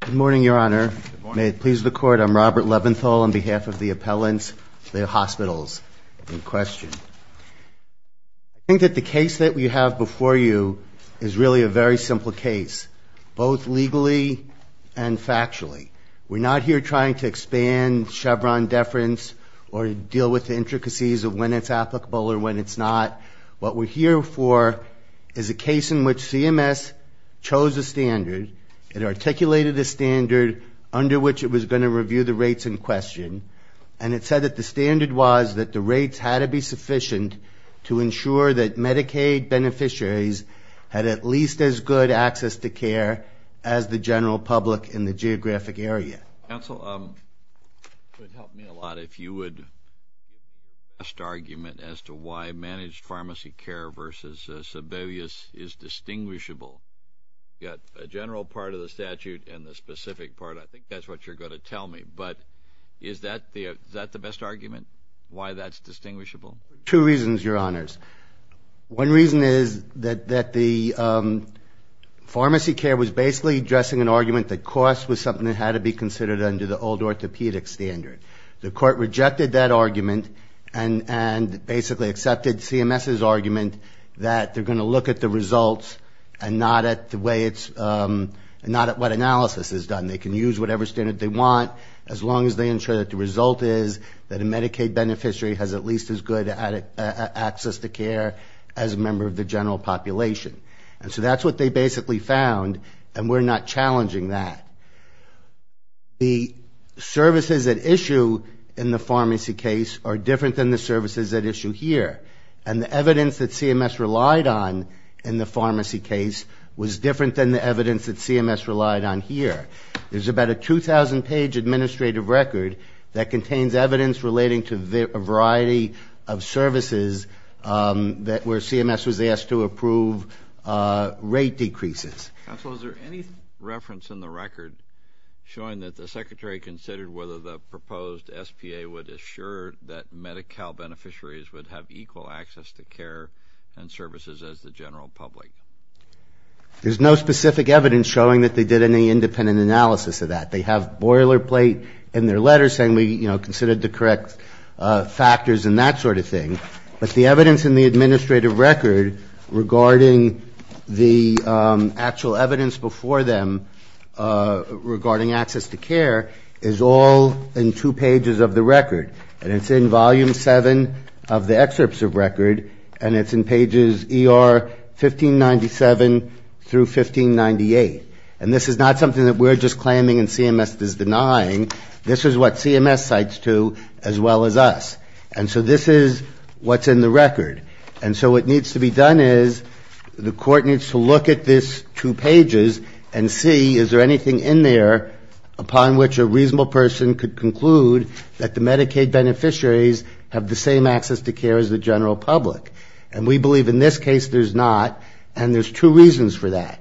Good morning, Your Honor. May it please the Court, I'm Robert Leventhal on behalf of the appellants, the hospitals in question. I think that the case that we have before you is really a very simple case, both legally and factually. We're not here trying to expand Chevron deference or deal with the intricacies of when it's applicable or when it's not. What we're here for is a case in which CMS chose a standard. It articulated a standard under which it was going to review the rates in question, and it said that the standard was that the rates had to be sufficient to ensure that Medicaid beneficiaries had at least as good access to care as the general public in the geographic area. Counsel, it would help me a lot if you would give the best argument as to why managed pharmacy care versus Sebelius is distinguishable. You've got a general part of the statute and the specific part. I think that's what you're going to tell me. But is that the best argument, why that's distinguishable? Two reasons, Your Honors. One reason is that the pharmacy care was basically addressing an argument that cost was something that had to be considered under the old orthopedic standard. The court rejected that argument and basically accepted CMS's argument that they're going to look at the results and not at what analysis is done. They can use whatever standard they want as long as they ensure that the result is that a Medicaid beneficiary has at least as good access to care as a member of the general population. And so that's what they basically found, and we're not challenging that. The services at issue in the pharmacy case are different than the services at issue here, and the evidence that CMS relied on in the pharmacy case was different than the evidence that CMS relied on here. There's about a 2,000-page administrative record that contains evidence relating to a variety of services where CMS was asked to approve rate decreases. Counsel, is there any reference in the record showing that the Secretary considered whether the proposed SPA would assure that Medi-Cal beneficiaries would have equal access to care and services as the general public? There's no specific evidence showing that they did any independent analysis of that. They have boilerplate in their letters saying we considered the correct factors and that sort of thing, but the evidence in the administrative record regarding the actual evidence before them regarding access to care is all in two pages of the record. And it's in Volume 7 of the excerpts of record, and it's in pages ER 1597 through 1598. And this is not something that we're just claiming and CMS is denying. This is what CMS cites, too, as well as us. And so this is what's in the record. And so what needs to be done is the court needs to look at this two pages and see is there anything in there upon which a reasonable person could conclude that the Medicaid beneficiaries have the same access to care as the general public. And we believe in this case there's not, and there's two reasons for that.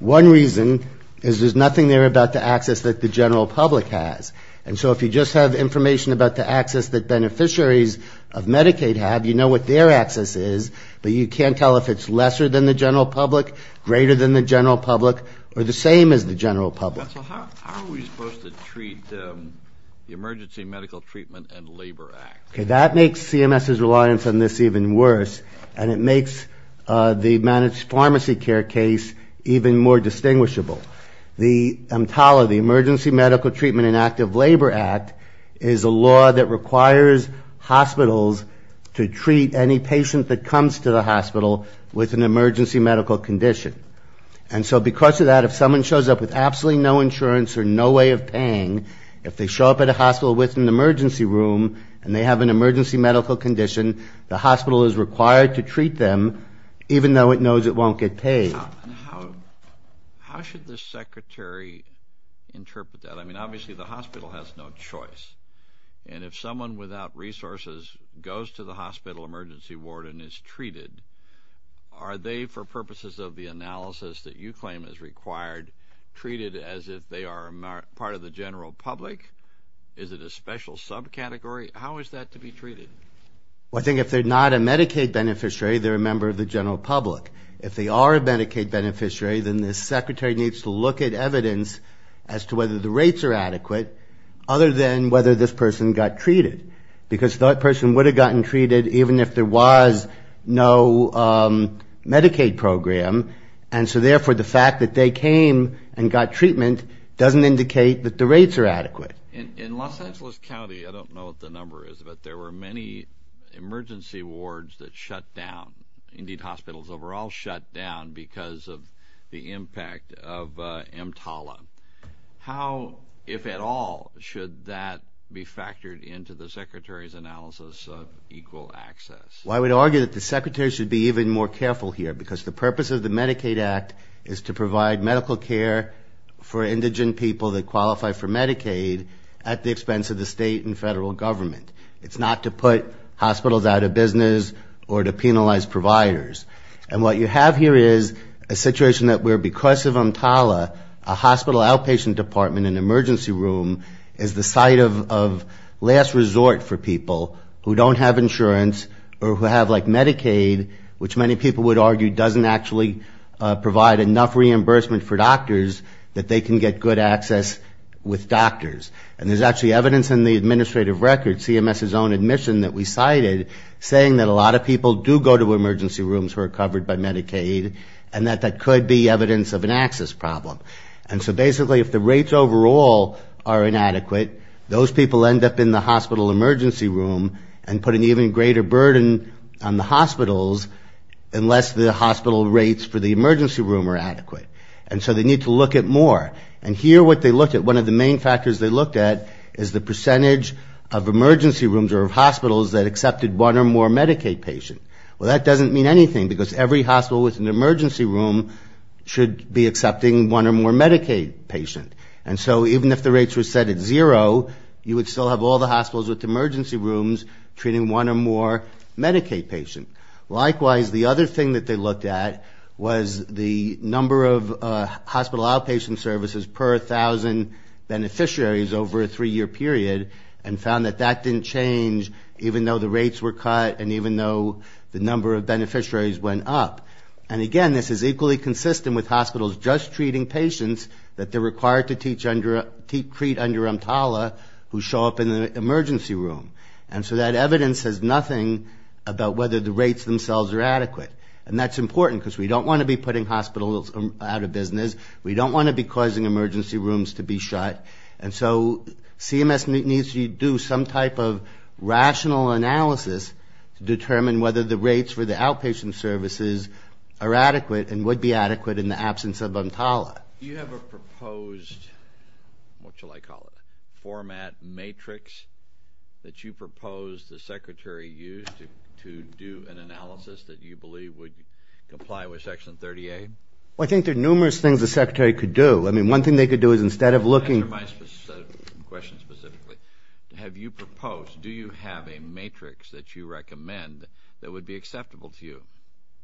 One reason is there's nothing there about the access that the general public has. And so if you just have information about the access that beneficiaries of Medicaid have, you know what their access is, but you can't tell if it's lesser than the general public, greater than the general public, or the same as the general public. How are we supposed to treat the Emergency Medical Treatment and Labor Act? That makes CMS's reliance on this even worse, and it makes the managed pharmacy care case even more distinguishable. The EMTALA, the Emergency Medical Treatment and Active Labor Act, is a law that requires hospitals to treat any patient that comes to the hospital with an emergency medical condition. And so because of that, if someone shows up with absolutely no insurance or no way of paying, if they show up at a hospital with an emergency room and they have an emergency medical condition, the hospital is required to treat them, even though it knows it won't get paid. And how should the secretary interpret that? I mean, obviously the hospital has no choice, and if someone without resources goes to the hospital emergency ward and is treated, are they, for purposes of the analysis that you claim is required, treated as if they are part of the general public? Is it a special subcategory? How is that to be treated? Well, I think if they're not a Medicaid beneficiary, they're a member of the general public. If they are a Medicaid beneficiary, then the secretary needs to look at evidence as to whether the rates are adequate, other than whether this person got treated, because that person would have gotten treated even if there was no Medicaid program, and so therefore the fact that they came and got treatment doesn't indicate that the rates are adequate. In Los Angeles County, I don't know what the number is, but there were many emergency wards that shut down. Indeed, hospitals overall shut down because of the impact of EMTALA. How, if at all, should that be factored into the secretary's analysis of equal access? Well, I would argue that the secretary should be even more careful here, because the purpose of the Medicaid Act is to provide medical care for indigent people that qualify for Medicaid at the expense of the state and federal government. It's not to put hospitals out of business or to penalize providers. And what you have here is a situation where because of EMTALA, a hospital outpatient department, an emergency room, is the site of last resort for people who don't have insurance or who have like Medicaid, which many people would argue doesn't actually provide enough reimbursement for doctors that they can get good access with doctors. And there's actually evidence in the administrative record, CMS's own admission that we cited, saying that a lot of people do go to emergency rooms who are covered by Medicaid and that that could be evidence of an access problem. And so basically if the rates overall are inadequate, those people end up in the hospital emergency room and put an even greater burden on the hospitals unless the hospital rates for the emergency room are adequate. And so they need to look at more. And here what they looked at, one of the main factors they looked at, is the percentage of emergency rooms or of hospitals that accepted one or more Medicaid patients. Well, that doesn't mean anything, because every hospital with an emergency room should be accepting one or more Medicaid patient. And so even if the rates were set at zero, you would still have all the hospitals with emergency rooms treating one or more Medicaid patients. Likewise, the other thing that they looked at was the number of hospital outpatient services per 1,000 beneficiaries over a three-year period and found that that didn't change even though the rates were cut and even though the number of beneficiaries went up. And again, this is equally consistent with hospitals just treating patients that they're required to treat under EMTALA who show up in the emergency room. And so that evidence says nothing about whether the rates themselves are adequate. And that's important, because we don't want to be putting hospitals out of business. We don't want to be causing emergency rooms to be shut. And so CMS needs to do some type of rational analysis to determine whether the rates for the outpatient services are adequate and would be adequate in the absence of EMTALA. Do you have a matrix that you propose the Secretary use to do an analysis that you believe would comply with Section 30A? Well, I think there are numerous things the Secretary could do. I mean, one thing they could do is instead of looking for my question specifically, have you proposed, do you have a matrix that you recommend that would be acceptable to you?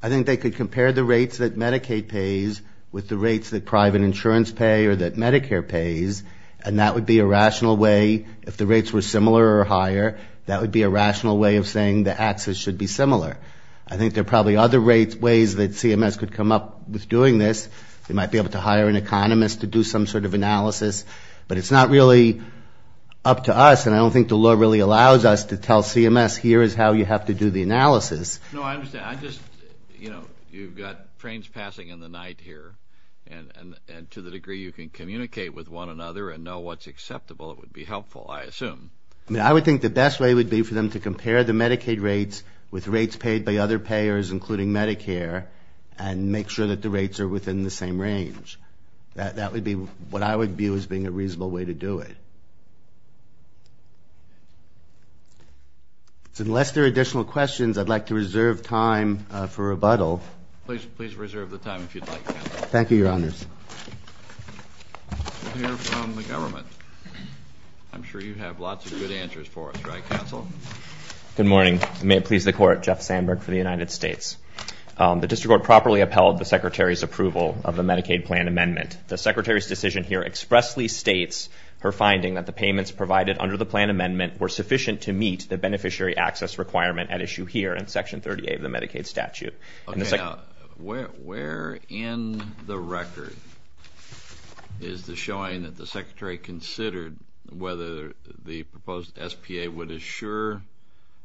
I think they could compare the rates that Medicaid pays with the rates that private insurance pay or that Medicare pays, and that would be a rational way, if the rates were similar or higher, that would be a rational way of saying the access should be similar. I think there are probably other ways that CMS could come up with doing this. They might be able to hire an economist to do some sort of analysis. But it's not really up to us, and I don't think the law really allows us to tell CMS, here is how you have to do the analysis. No, I understand. I just, you know, you've got trains passing in the night here, and to the degree you can communicate with one another and know what's acceptable, it would be helpful, I assume. I mean, I would think the best way would be for them to compare the Medicaid rates with rates paid by other payers, including Medicare, and make sure that the rates are within the same range. That would be what I would view as being a reasonable way to do it. So unless there are additional questions, I'd like to reserve time for rebuttal. Please reserve the time if you'd like, counsel. Thank you, Your Honors. We'll hear from the government. I'm sure you have lots of good answers for us, right, counsel? Good morning. May it please the Court. Jeff Sandberg for the United States. The District Court properly upheld the Secretary's request for a plan amendment that expressly states her finding that the payments provided under the plan amendment were sufficient to meet the beneficiary access requirement at issue here in Section 38 of the Medicaid statute. Okay. Now, where in the record is the showing that the Secretary considered whether the proposed SBA would assure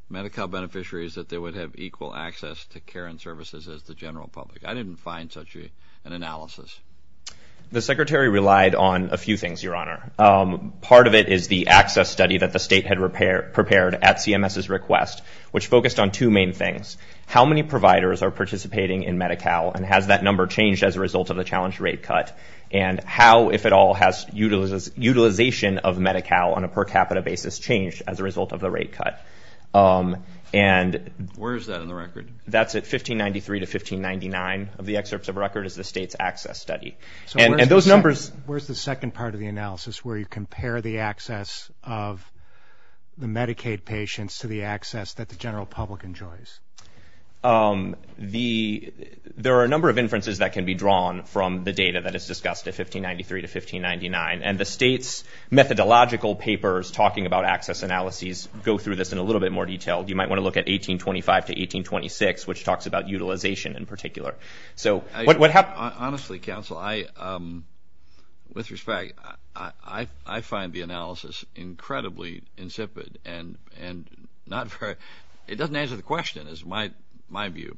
Medi-Cal beneficiaries that they would have equal access to care and services as the general public? I didn't find such an analysis. The Secretary relied on a few things, Your Honor. Part of it is the access study that the state had prepared at CMS's request, which focused on two main things. How many providers are participating in Medi-Cal, and has that number changed as a result of the challenge rate cut? And how, if at all, has utilization of Medi-Cal on a per capita basis changed as a result of the rate cut? Where is that in the record? That's at 1593 to 1599 of the excerpts of record is the state's access study. Where's the second part of the analysis where you compare the access of the Medicaid patients to the access that the general public enjoys? There are a number of inferences that can be drawn from the data that is discussed at 1593 to 1599. And the state's methodological papers talking about access analyses go through this in a little bit more detail. You might want to look at 1825 to 1826, which talks about utilization in particular. Honestly, Counsel, with respect, I find the analysis incredibly insipid. It doesn't answer the question, is my view.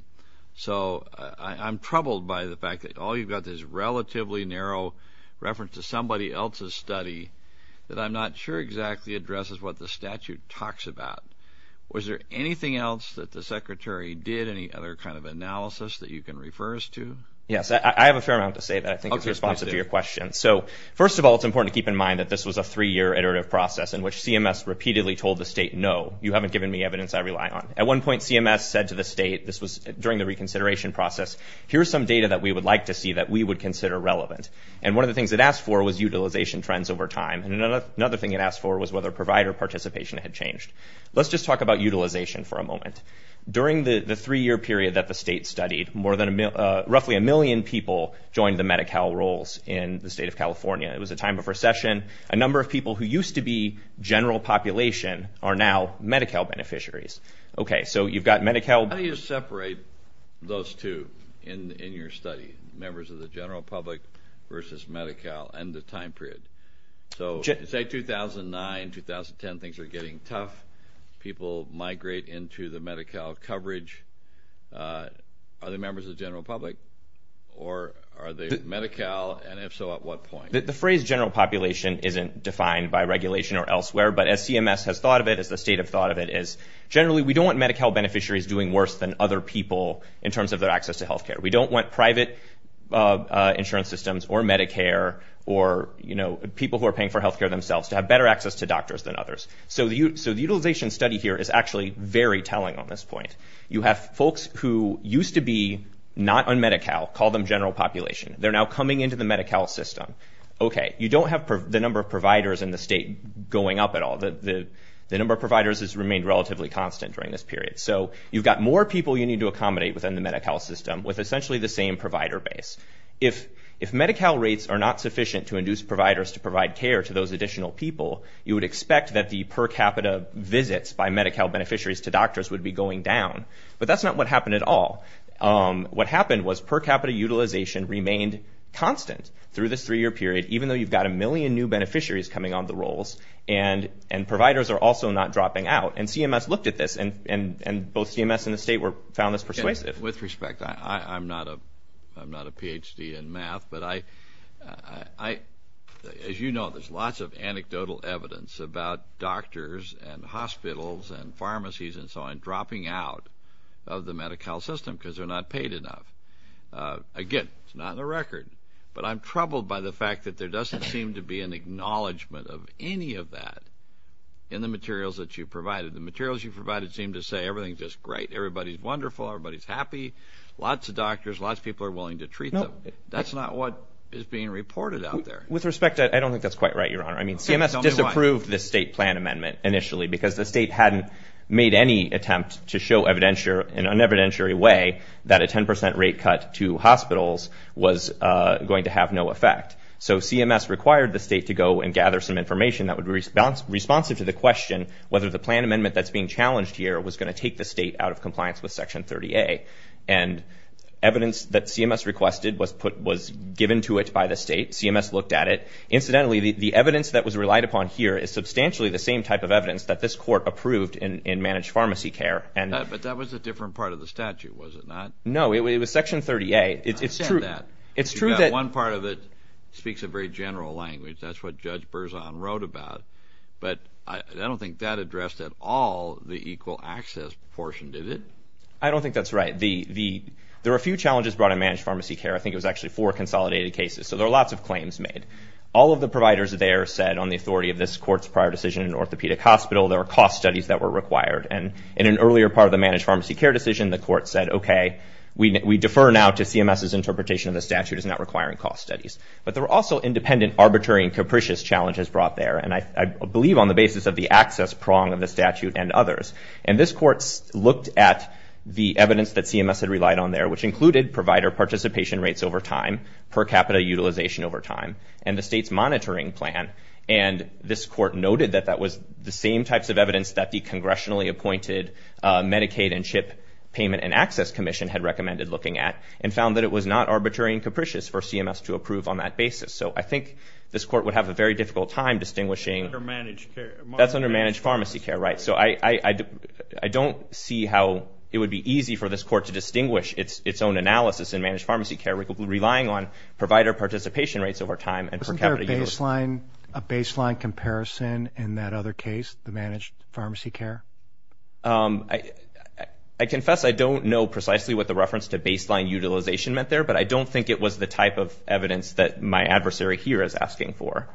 So I'm troubled by the fact that all you've got is relatively narrow reference to somebody else's study that I'm not sure exactly addresses what the statute talks about. Was there anything else that the Secretary did, any other kind of analysis that you can refer us to? Yes, I have a fair amount to say that I think is responsive to your question. So first of all, it's important to keep in mind that this was a three-year iterative process in which CMS repeatedly told the state, no, you haven't given me evidence I rely on. At one point, CMS said to the state, this was during the reconsideration process, here's some data that we would like to see that we would consider relevant. And one of the things it asked for was utilization trends over time, and another thing it asked for was whether provider participation had changed. Let's just talk about utilization for a moment. During the three-year period that the state studied, roughly a million people joined the Medi-Cal roles in the state of California. It was a time of recession, a number of people who used to be general population are now Medi-Cal beneficiaries. How do you separate those two in your study, members of the general public versus Medi-Cal and the time period? So say 2009, 2010, things are getting tough, people migrate into the Medi-Cal coverage, are they members of the general public, or are they Medi-Cal, and if so, at what point? The phrase general population isn't defined by regulation or elsewhere, but as CMS has thought of it, as the state has thought of it, is generally we don't want Medi-Cal beneficiaries doing worse than other people in terms of their access to healthcare. We don't want private insurance systems or Medicare or people who are paying for healthcare themselves to have better access to doctors than others. So the utilization study here is actually very telling on this point. You have folks who used to be not on Medi-Cal, call them general population, they're now coming into the Medi-Cal system. Okay, you don't have the number of providers in the state going up at all. The number of providers has remained relatively constant during this period. So you've got more people you need to accommodate within the Medi-Cal system with essentially the same provider base. If Medi-Cal rates are not sufficient to induce providers to provide care to those additional people, you would expect that the per capita visits by Medi-Cal beneficiaries to doctors would be going down, but that's not what happened at all. What happened was per capita utilization remained constant through this three-year period, even though you've got a million new beneficiaries coming on the rolls and providers are also not dropping out. And CMS looked at this and both CMS and the state found this persuasive. With respect, I'm not a Ph.D. in math, but as you know, there's lots of anecdotal evidence about doctors and hospitals and pharmacies and so on dropping out of the Medi-Cal system. Again, it's not on the record, but I'm troubled by the fact that there doesn't seem to be an acknowledgment of any of that in the materials that you provided. The materials you provided seem to say everything's just great, everybody's wonderful, everybody's happy, lots of doctors, lots of people are willing to treat them. That's not what is being reported out there. With respect, I don't think that's quite right, Your Honor. CMS disapproved this state plan amendment initially because the state hadn't made any attempt to show in an evidentiary way that a 10% rate cut to hospitals was going to have no effect. So CMS required the state to go and gather some information that would be responsive to the question whether the plan amendment that's being challenged here was going to take the state out of compliance with Section 30A. And evidence that CMS requested was given to it by the state. CMS looked at it. Incidentally, the evidence that was relied upon here is substantially the same type of evidence that this court approved in managed pharmacy care. But that was a different part of the statute, was it not? No, it was Section 30A. I understand that. One part of it speaks a very general language. That's what Judge Berzon wrote about. But I don't think that addressed at all the equal access portion, did it? I don't think that's right. There were a few challenges brought in managed pharmacy care. I think it was actually four consolidated cases. So there were lots of claims made. All of the providers there said on the authority of this court's prior decision in orthopedic hospital, there were cost studies that were required. And in an earlier part of the managed pharmacy care decision, the court said, okay, we defer now to CMS's interpretation of the statute as not requiring cost studies. But there were also independent, arbitrary, and capricious challenges brought there. And I believe on the basis of the access prong of the statute and others. And this court looked at the evidence that CMS had relied on there, which included provider participation rates over time, per capita utilization over time, and the state's monitoring plan. And this court noted that that was the same types of evidence that the congressionally appointed Medicaid and CHIP Payment and Access Commission had recommended looking at, and found that it was not arbitrary and capricious for CMS to approve on that basis. So I think this court would have a very difficult time distinguishing. That's under managed pharmacy care, right? So I don't see how it would be easy for this court to distinguish its own analysis in managed pharmacy care relying on provider participation rates over time. Wasn't there a baseline comparison in that other case, the managed pharmacy care? I confess I don't know precisely what the reference to baseline utilization meant there, but I don't think it was the type of evidence that my adversary here is asking for.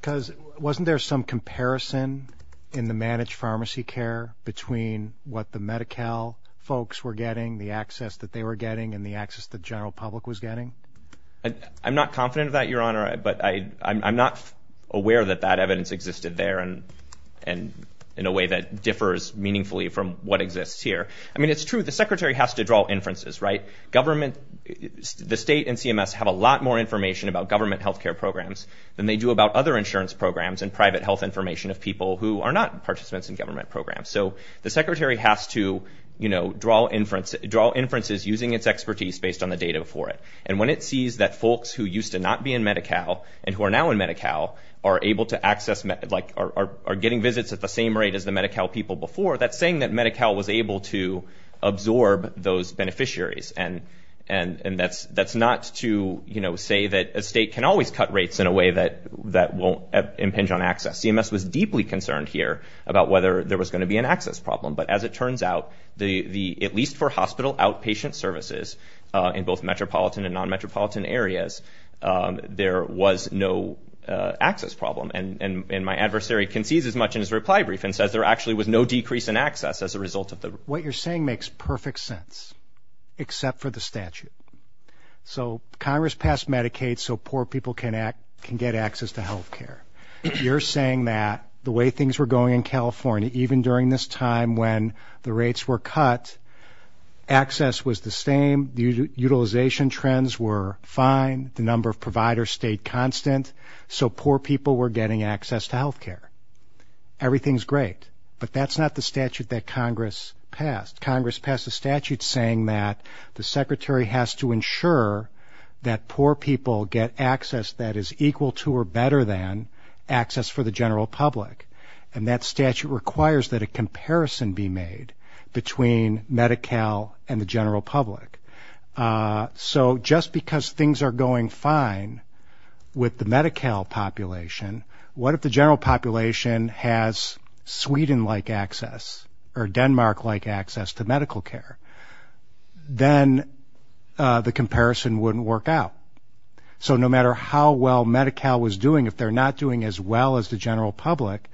Because wasn't there some comparison in the managed pharmacy care between what the Medi-Cal folks were getting, the access that they were getting, and the access the general public was getting? I'm not confident of that, Your Honor, but I'm not aware that that evidence existed there in a way that differs meaningfully from what exists here. I mean, it's true, the secretary has to draw inferences, right? The state and CMS have a lot more information about government health care programs than they do about other insurance programs and private health information of people who are not participants in government programs. So the secretary has to draw inferences using its expertise based on the data for it. And when it sees that folks who used to not be in Medi-Cal, and who are now in Medi-Cal, are able to access, are getting visits at the same rate as the Medi-Cal people before, that's saying that Medi-Cal was able to absorb those beneficiaries. And that's not to say that a state can always cut rates in a way that won't impinge on access. CMS was deeply concerned here about whether there was going to be an access problem. But as it turns out, at least for hospital outpatient services in both metropolitan and non-metropolitan areas, there was no access problem. And my adversary concedes as much in his reply brief and says there actually was no decrease in access as a result of the... What you're saying makes perfect sense, except for the statute. So Congress passed Medicaid so poor people can get access to health care. You're saying that the way things were going in California, even during this time when the rates were cut, access was the same, utilization trends were fine, the number of providers stayed constant, so poor people were getting access to health care. Everything's great, but that's not the statute that Congress passed. Congress passed a statute saying that the secretary has to ensure that poor people get access that is equal to or better than access for the general public. And that statute requires that a comparison be made between Medi-Cal and the general public. So just because things are going fine with the Medi-Cal population, what if the general population has Sweden-like access or Denmark-like access to medical care? Then the comparison wouldn't work out. So no matter how well Medi-Cal was doing, if they're not doing as well as the general public,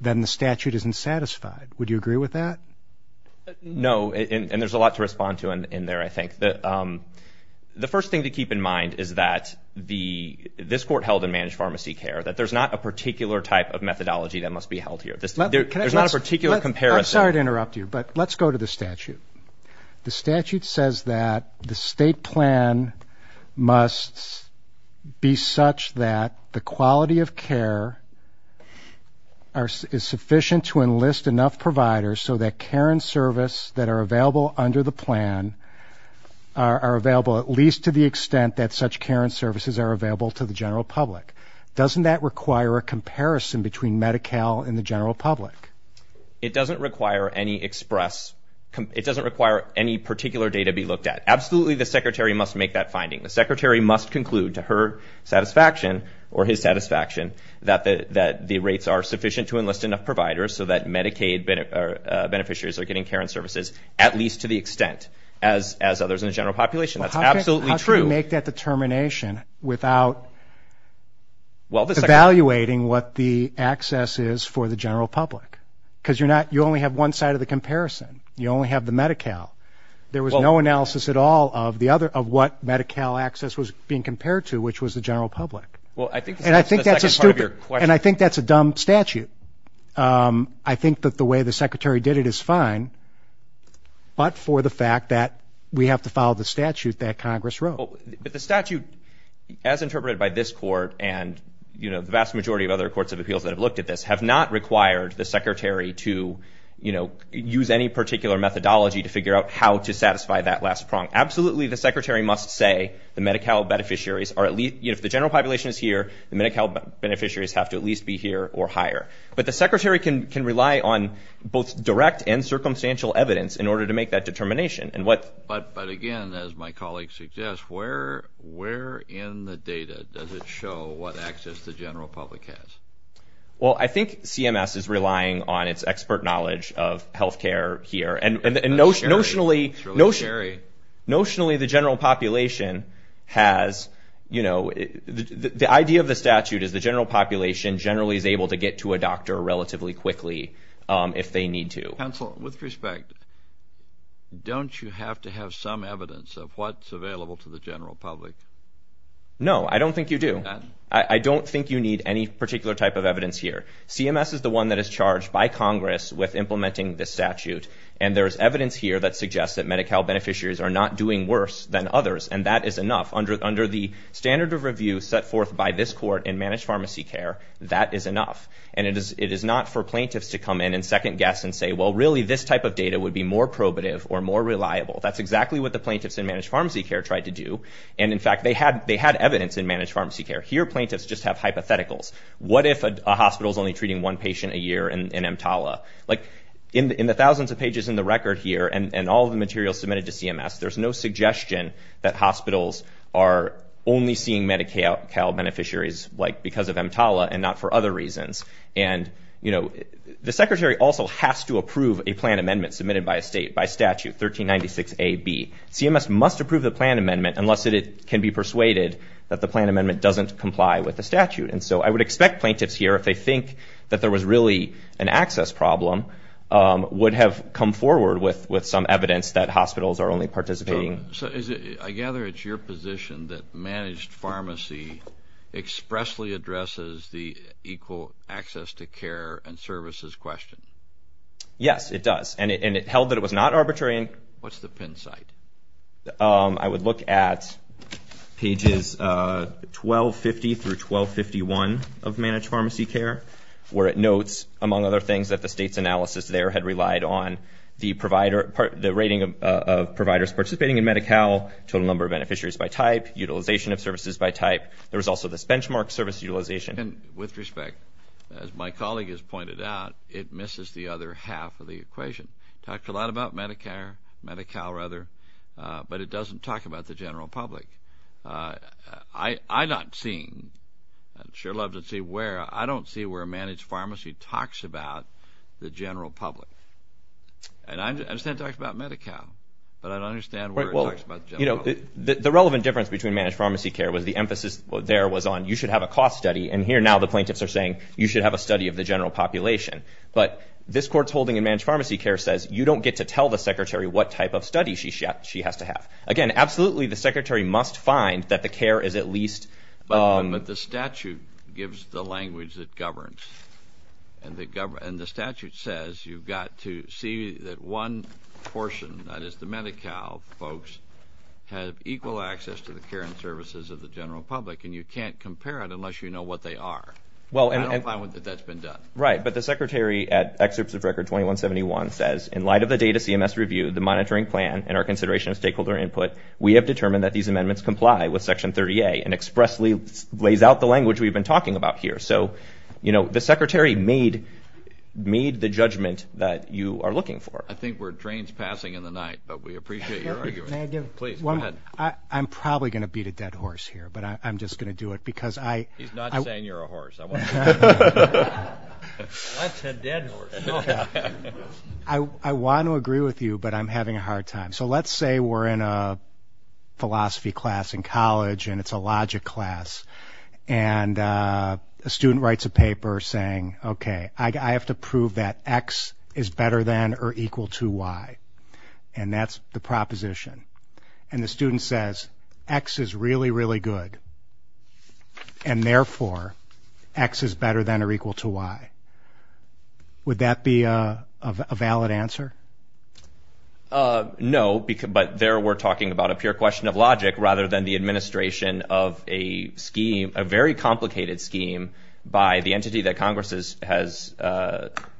then the statute isn't satisfied. Would you agree with that? No, and there's a lot to respond to in there, I think. The first thing to keep in mind is that this court held in managed pharmacy care, that there's not a particular type of methodology that must be held here. There's not a particular comparison. I'm sorry to interrupt you, but let's go to the statute. The statute says that the state plan must be such that the quality of care is sufficient to enlist enough providers so that care and service that are available under the plan are available, at least to the extent that such care and services are available to the general public. Doesn't that require a comparison between Medi-Cal and the general public? It doesn't require any express, it doesn't require any particular data be looked at. Absolutely the secretary must make that finding. The secretary must conclude to her satisfaction or his satisfaction that the rates are sufficient to enlist enough providers so that Medicaid beneficiaries are getting care and services at least to the extent as others in the general population. That's absolutely true. How can you make that determination without evaluating what the access is for the general public? Because you only have one side of the comparison, you only have the Medi-Cal. There was no analysis at all of what Medi-Cal access was being compared to, which was the general public. And I think that's a stupid, and I think that's a dumb statute. I think that the way the secretary did it is fine, but for the fact that we have to follow the statute that Congress wrote. But the statute, as interpreted by this court and the vast majority of other courts of appeals that have looked at this, have not required the secretary to use any particular methodology to figure out how to satisfy that last prong. Absolutely the secretary must say the Medi-Cal beneficiaries are at least, if the general population is here, the Medi-Cal beneficiaries have to at least be here or higher. But the secretary can rely on both direct and circumstantial evidence in order to make that determination. But again, as my colleague suggests, where in the data does it show what access the general public has? Well, I think CMS is relying on its expert knowledge of health care here. And notionally the general population has, the idea of the statute is the general population generally is able to get to a doctor relatively quickly if they need to. Counsel, with respect, don't you have to have some evidence of what's available to the general public? No, I don't think you do. I don't think you need any particular type of evidence here. CMS is the one that is charged by Congress with implementing this statute. And there's evidence here that suggests that Medi-Cal beneficiaries are not doing worse than others. And that is enough. Under the standard of review set forth by this court in managed pharmacy care, that is enough. And it is not for plaintiffs to come in and second guess and say, well, really this type of data would be more probative or more reliable. That's exactly what the plaintiffs in managed pharmacy care tried to do. And in fact they had evidence in managed pharmacy care. Here plaintiffs just have hypotheticals. What if a hospital is only treating one patient a year in EMTALA? Like in the thousands of pages in the record here and all the materials submitted to CMS, there's no suggestion that hospitals are only seeing Medi-Cal beneficiaries because of EMTALA and not for other reasons. And, you know, the secretary also has to approve a plan amendment submitted by a state, by statute, 1396 A.B. CMS must approve the plan amendment unless it can be persuaded that the plan amendment doesn't comply with the statute. And so I would expect plaintiffs here, if they think that there was really an access problem, would have come forward with some evidence that hospitals are only participating. I gather it's your position that managed pharmacy expressly addresses the equal access to care and services question. Yes, it does, and it held that it was not arbitrary. What's the pin site? I would look at pages 1250 through 1251 of managed pharmacy care, where it notes, among other things, that the state's analysis there had relied on the rating of providers participating in Medi-Cal, total number of beneficiaries by type, utilization of services by type. There was also this benchmark service utilization. And with respect, as my colleague has pointed out, it misses the other half of the equation. Talked a lot about Medi-Cal, but it doesn't talk about the general public. I'm not seeing, I'd sure love to see where, I don't see where managed pharmacy talks about the general public. And I understand it talks about Medi-Cal, but I don't understand where it talks about the general public. The relevant difference between managed pharmacy care was the emphasis there was on you should have a cost study, and here now the plaintiffs are saying you should have a study of the general population. But this court's holding in managed pharmacy care says you don't get to tell the secretary what type of study she has to have. Again, absolutely the secretary must find that the care is at least... But the statute gives the language that governs. And the statute says you've got to see that one portion, that is the Medi-Cal folks, have equal access to the care and services of the general public. And you can't compare it unless you know what they are. I don't find that that's been done. Right. But the secretary at Excerpts of Record 2171 says, in light of the data CMS reviewed, the monitoring plan, and our consideration of stakeholder input, we have determined that these amendments comply with Section 30A and expressly lays out the language we've been talking about here. So, you know, the secretary made the judgment that you are looking for. I think we're at trains passing in the night, but we appreciate your argument. I'm probably going to beat a dead horse here, but I'm just going to do it because I... He's not saying you're a horse. Let's head dead horse. I want to agree with you, but I'm having a hard time. So let's say we're in a philosophy class in college, and it's a logic class. And a student writes a paper saying, okay, I have to prove that X is better than or equal to Y. And that's the proposition. And the student says, X is really, really good. And therefore, X is better than or equal to Y. Would that be a valid answer? No, but there we're talking about a pure question of logic rather than the administration of a scheme, a very complicated scheme by the entity that Congress has,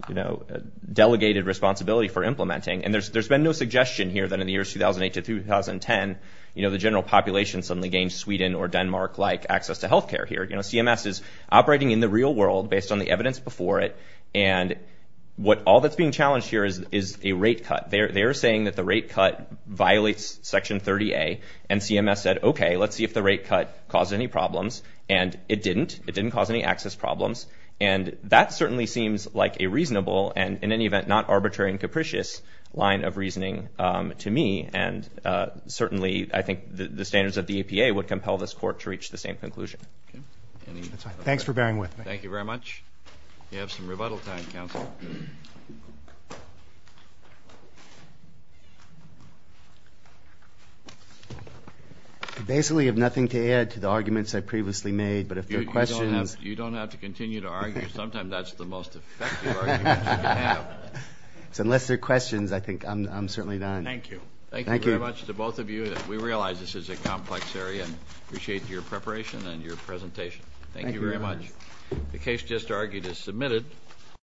you know, in 2010, you know, the general population suddenly gained Sweden or Denmark-like access to health care here. You know, CMS is operating in the real world based on the evidence before it. And what all that's being challenged here is a rate cut. They're saying that the rate cut violates Section 30A. And CMS said, okay, let's see if the rate cut caused any problems. And it didn't. It didn't cause any access problems. And that certainly seems like a reasonable and, in any event, not arbitrary and capricious line of reasoning to me. And certainly I think the standards of the EPA would compel this Court to reach the same conclusion. Thanks for bearing with me. Thank you very much. I basically have nothing to add to the arguments I previously made, but if there are questions. You don't have to continue to argue. Sometimes that's the most effective argument you can have. So unless there are questions, I think I'm certainly done. Thank you. Thank you very much to both of you.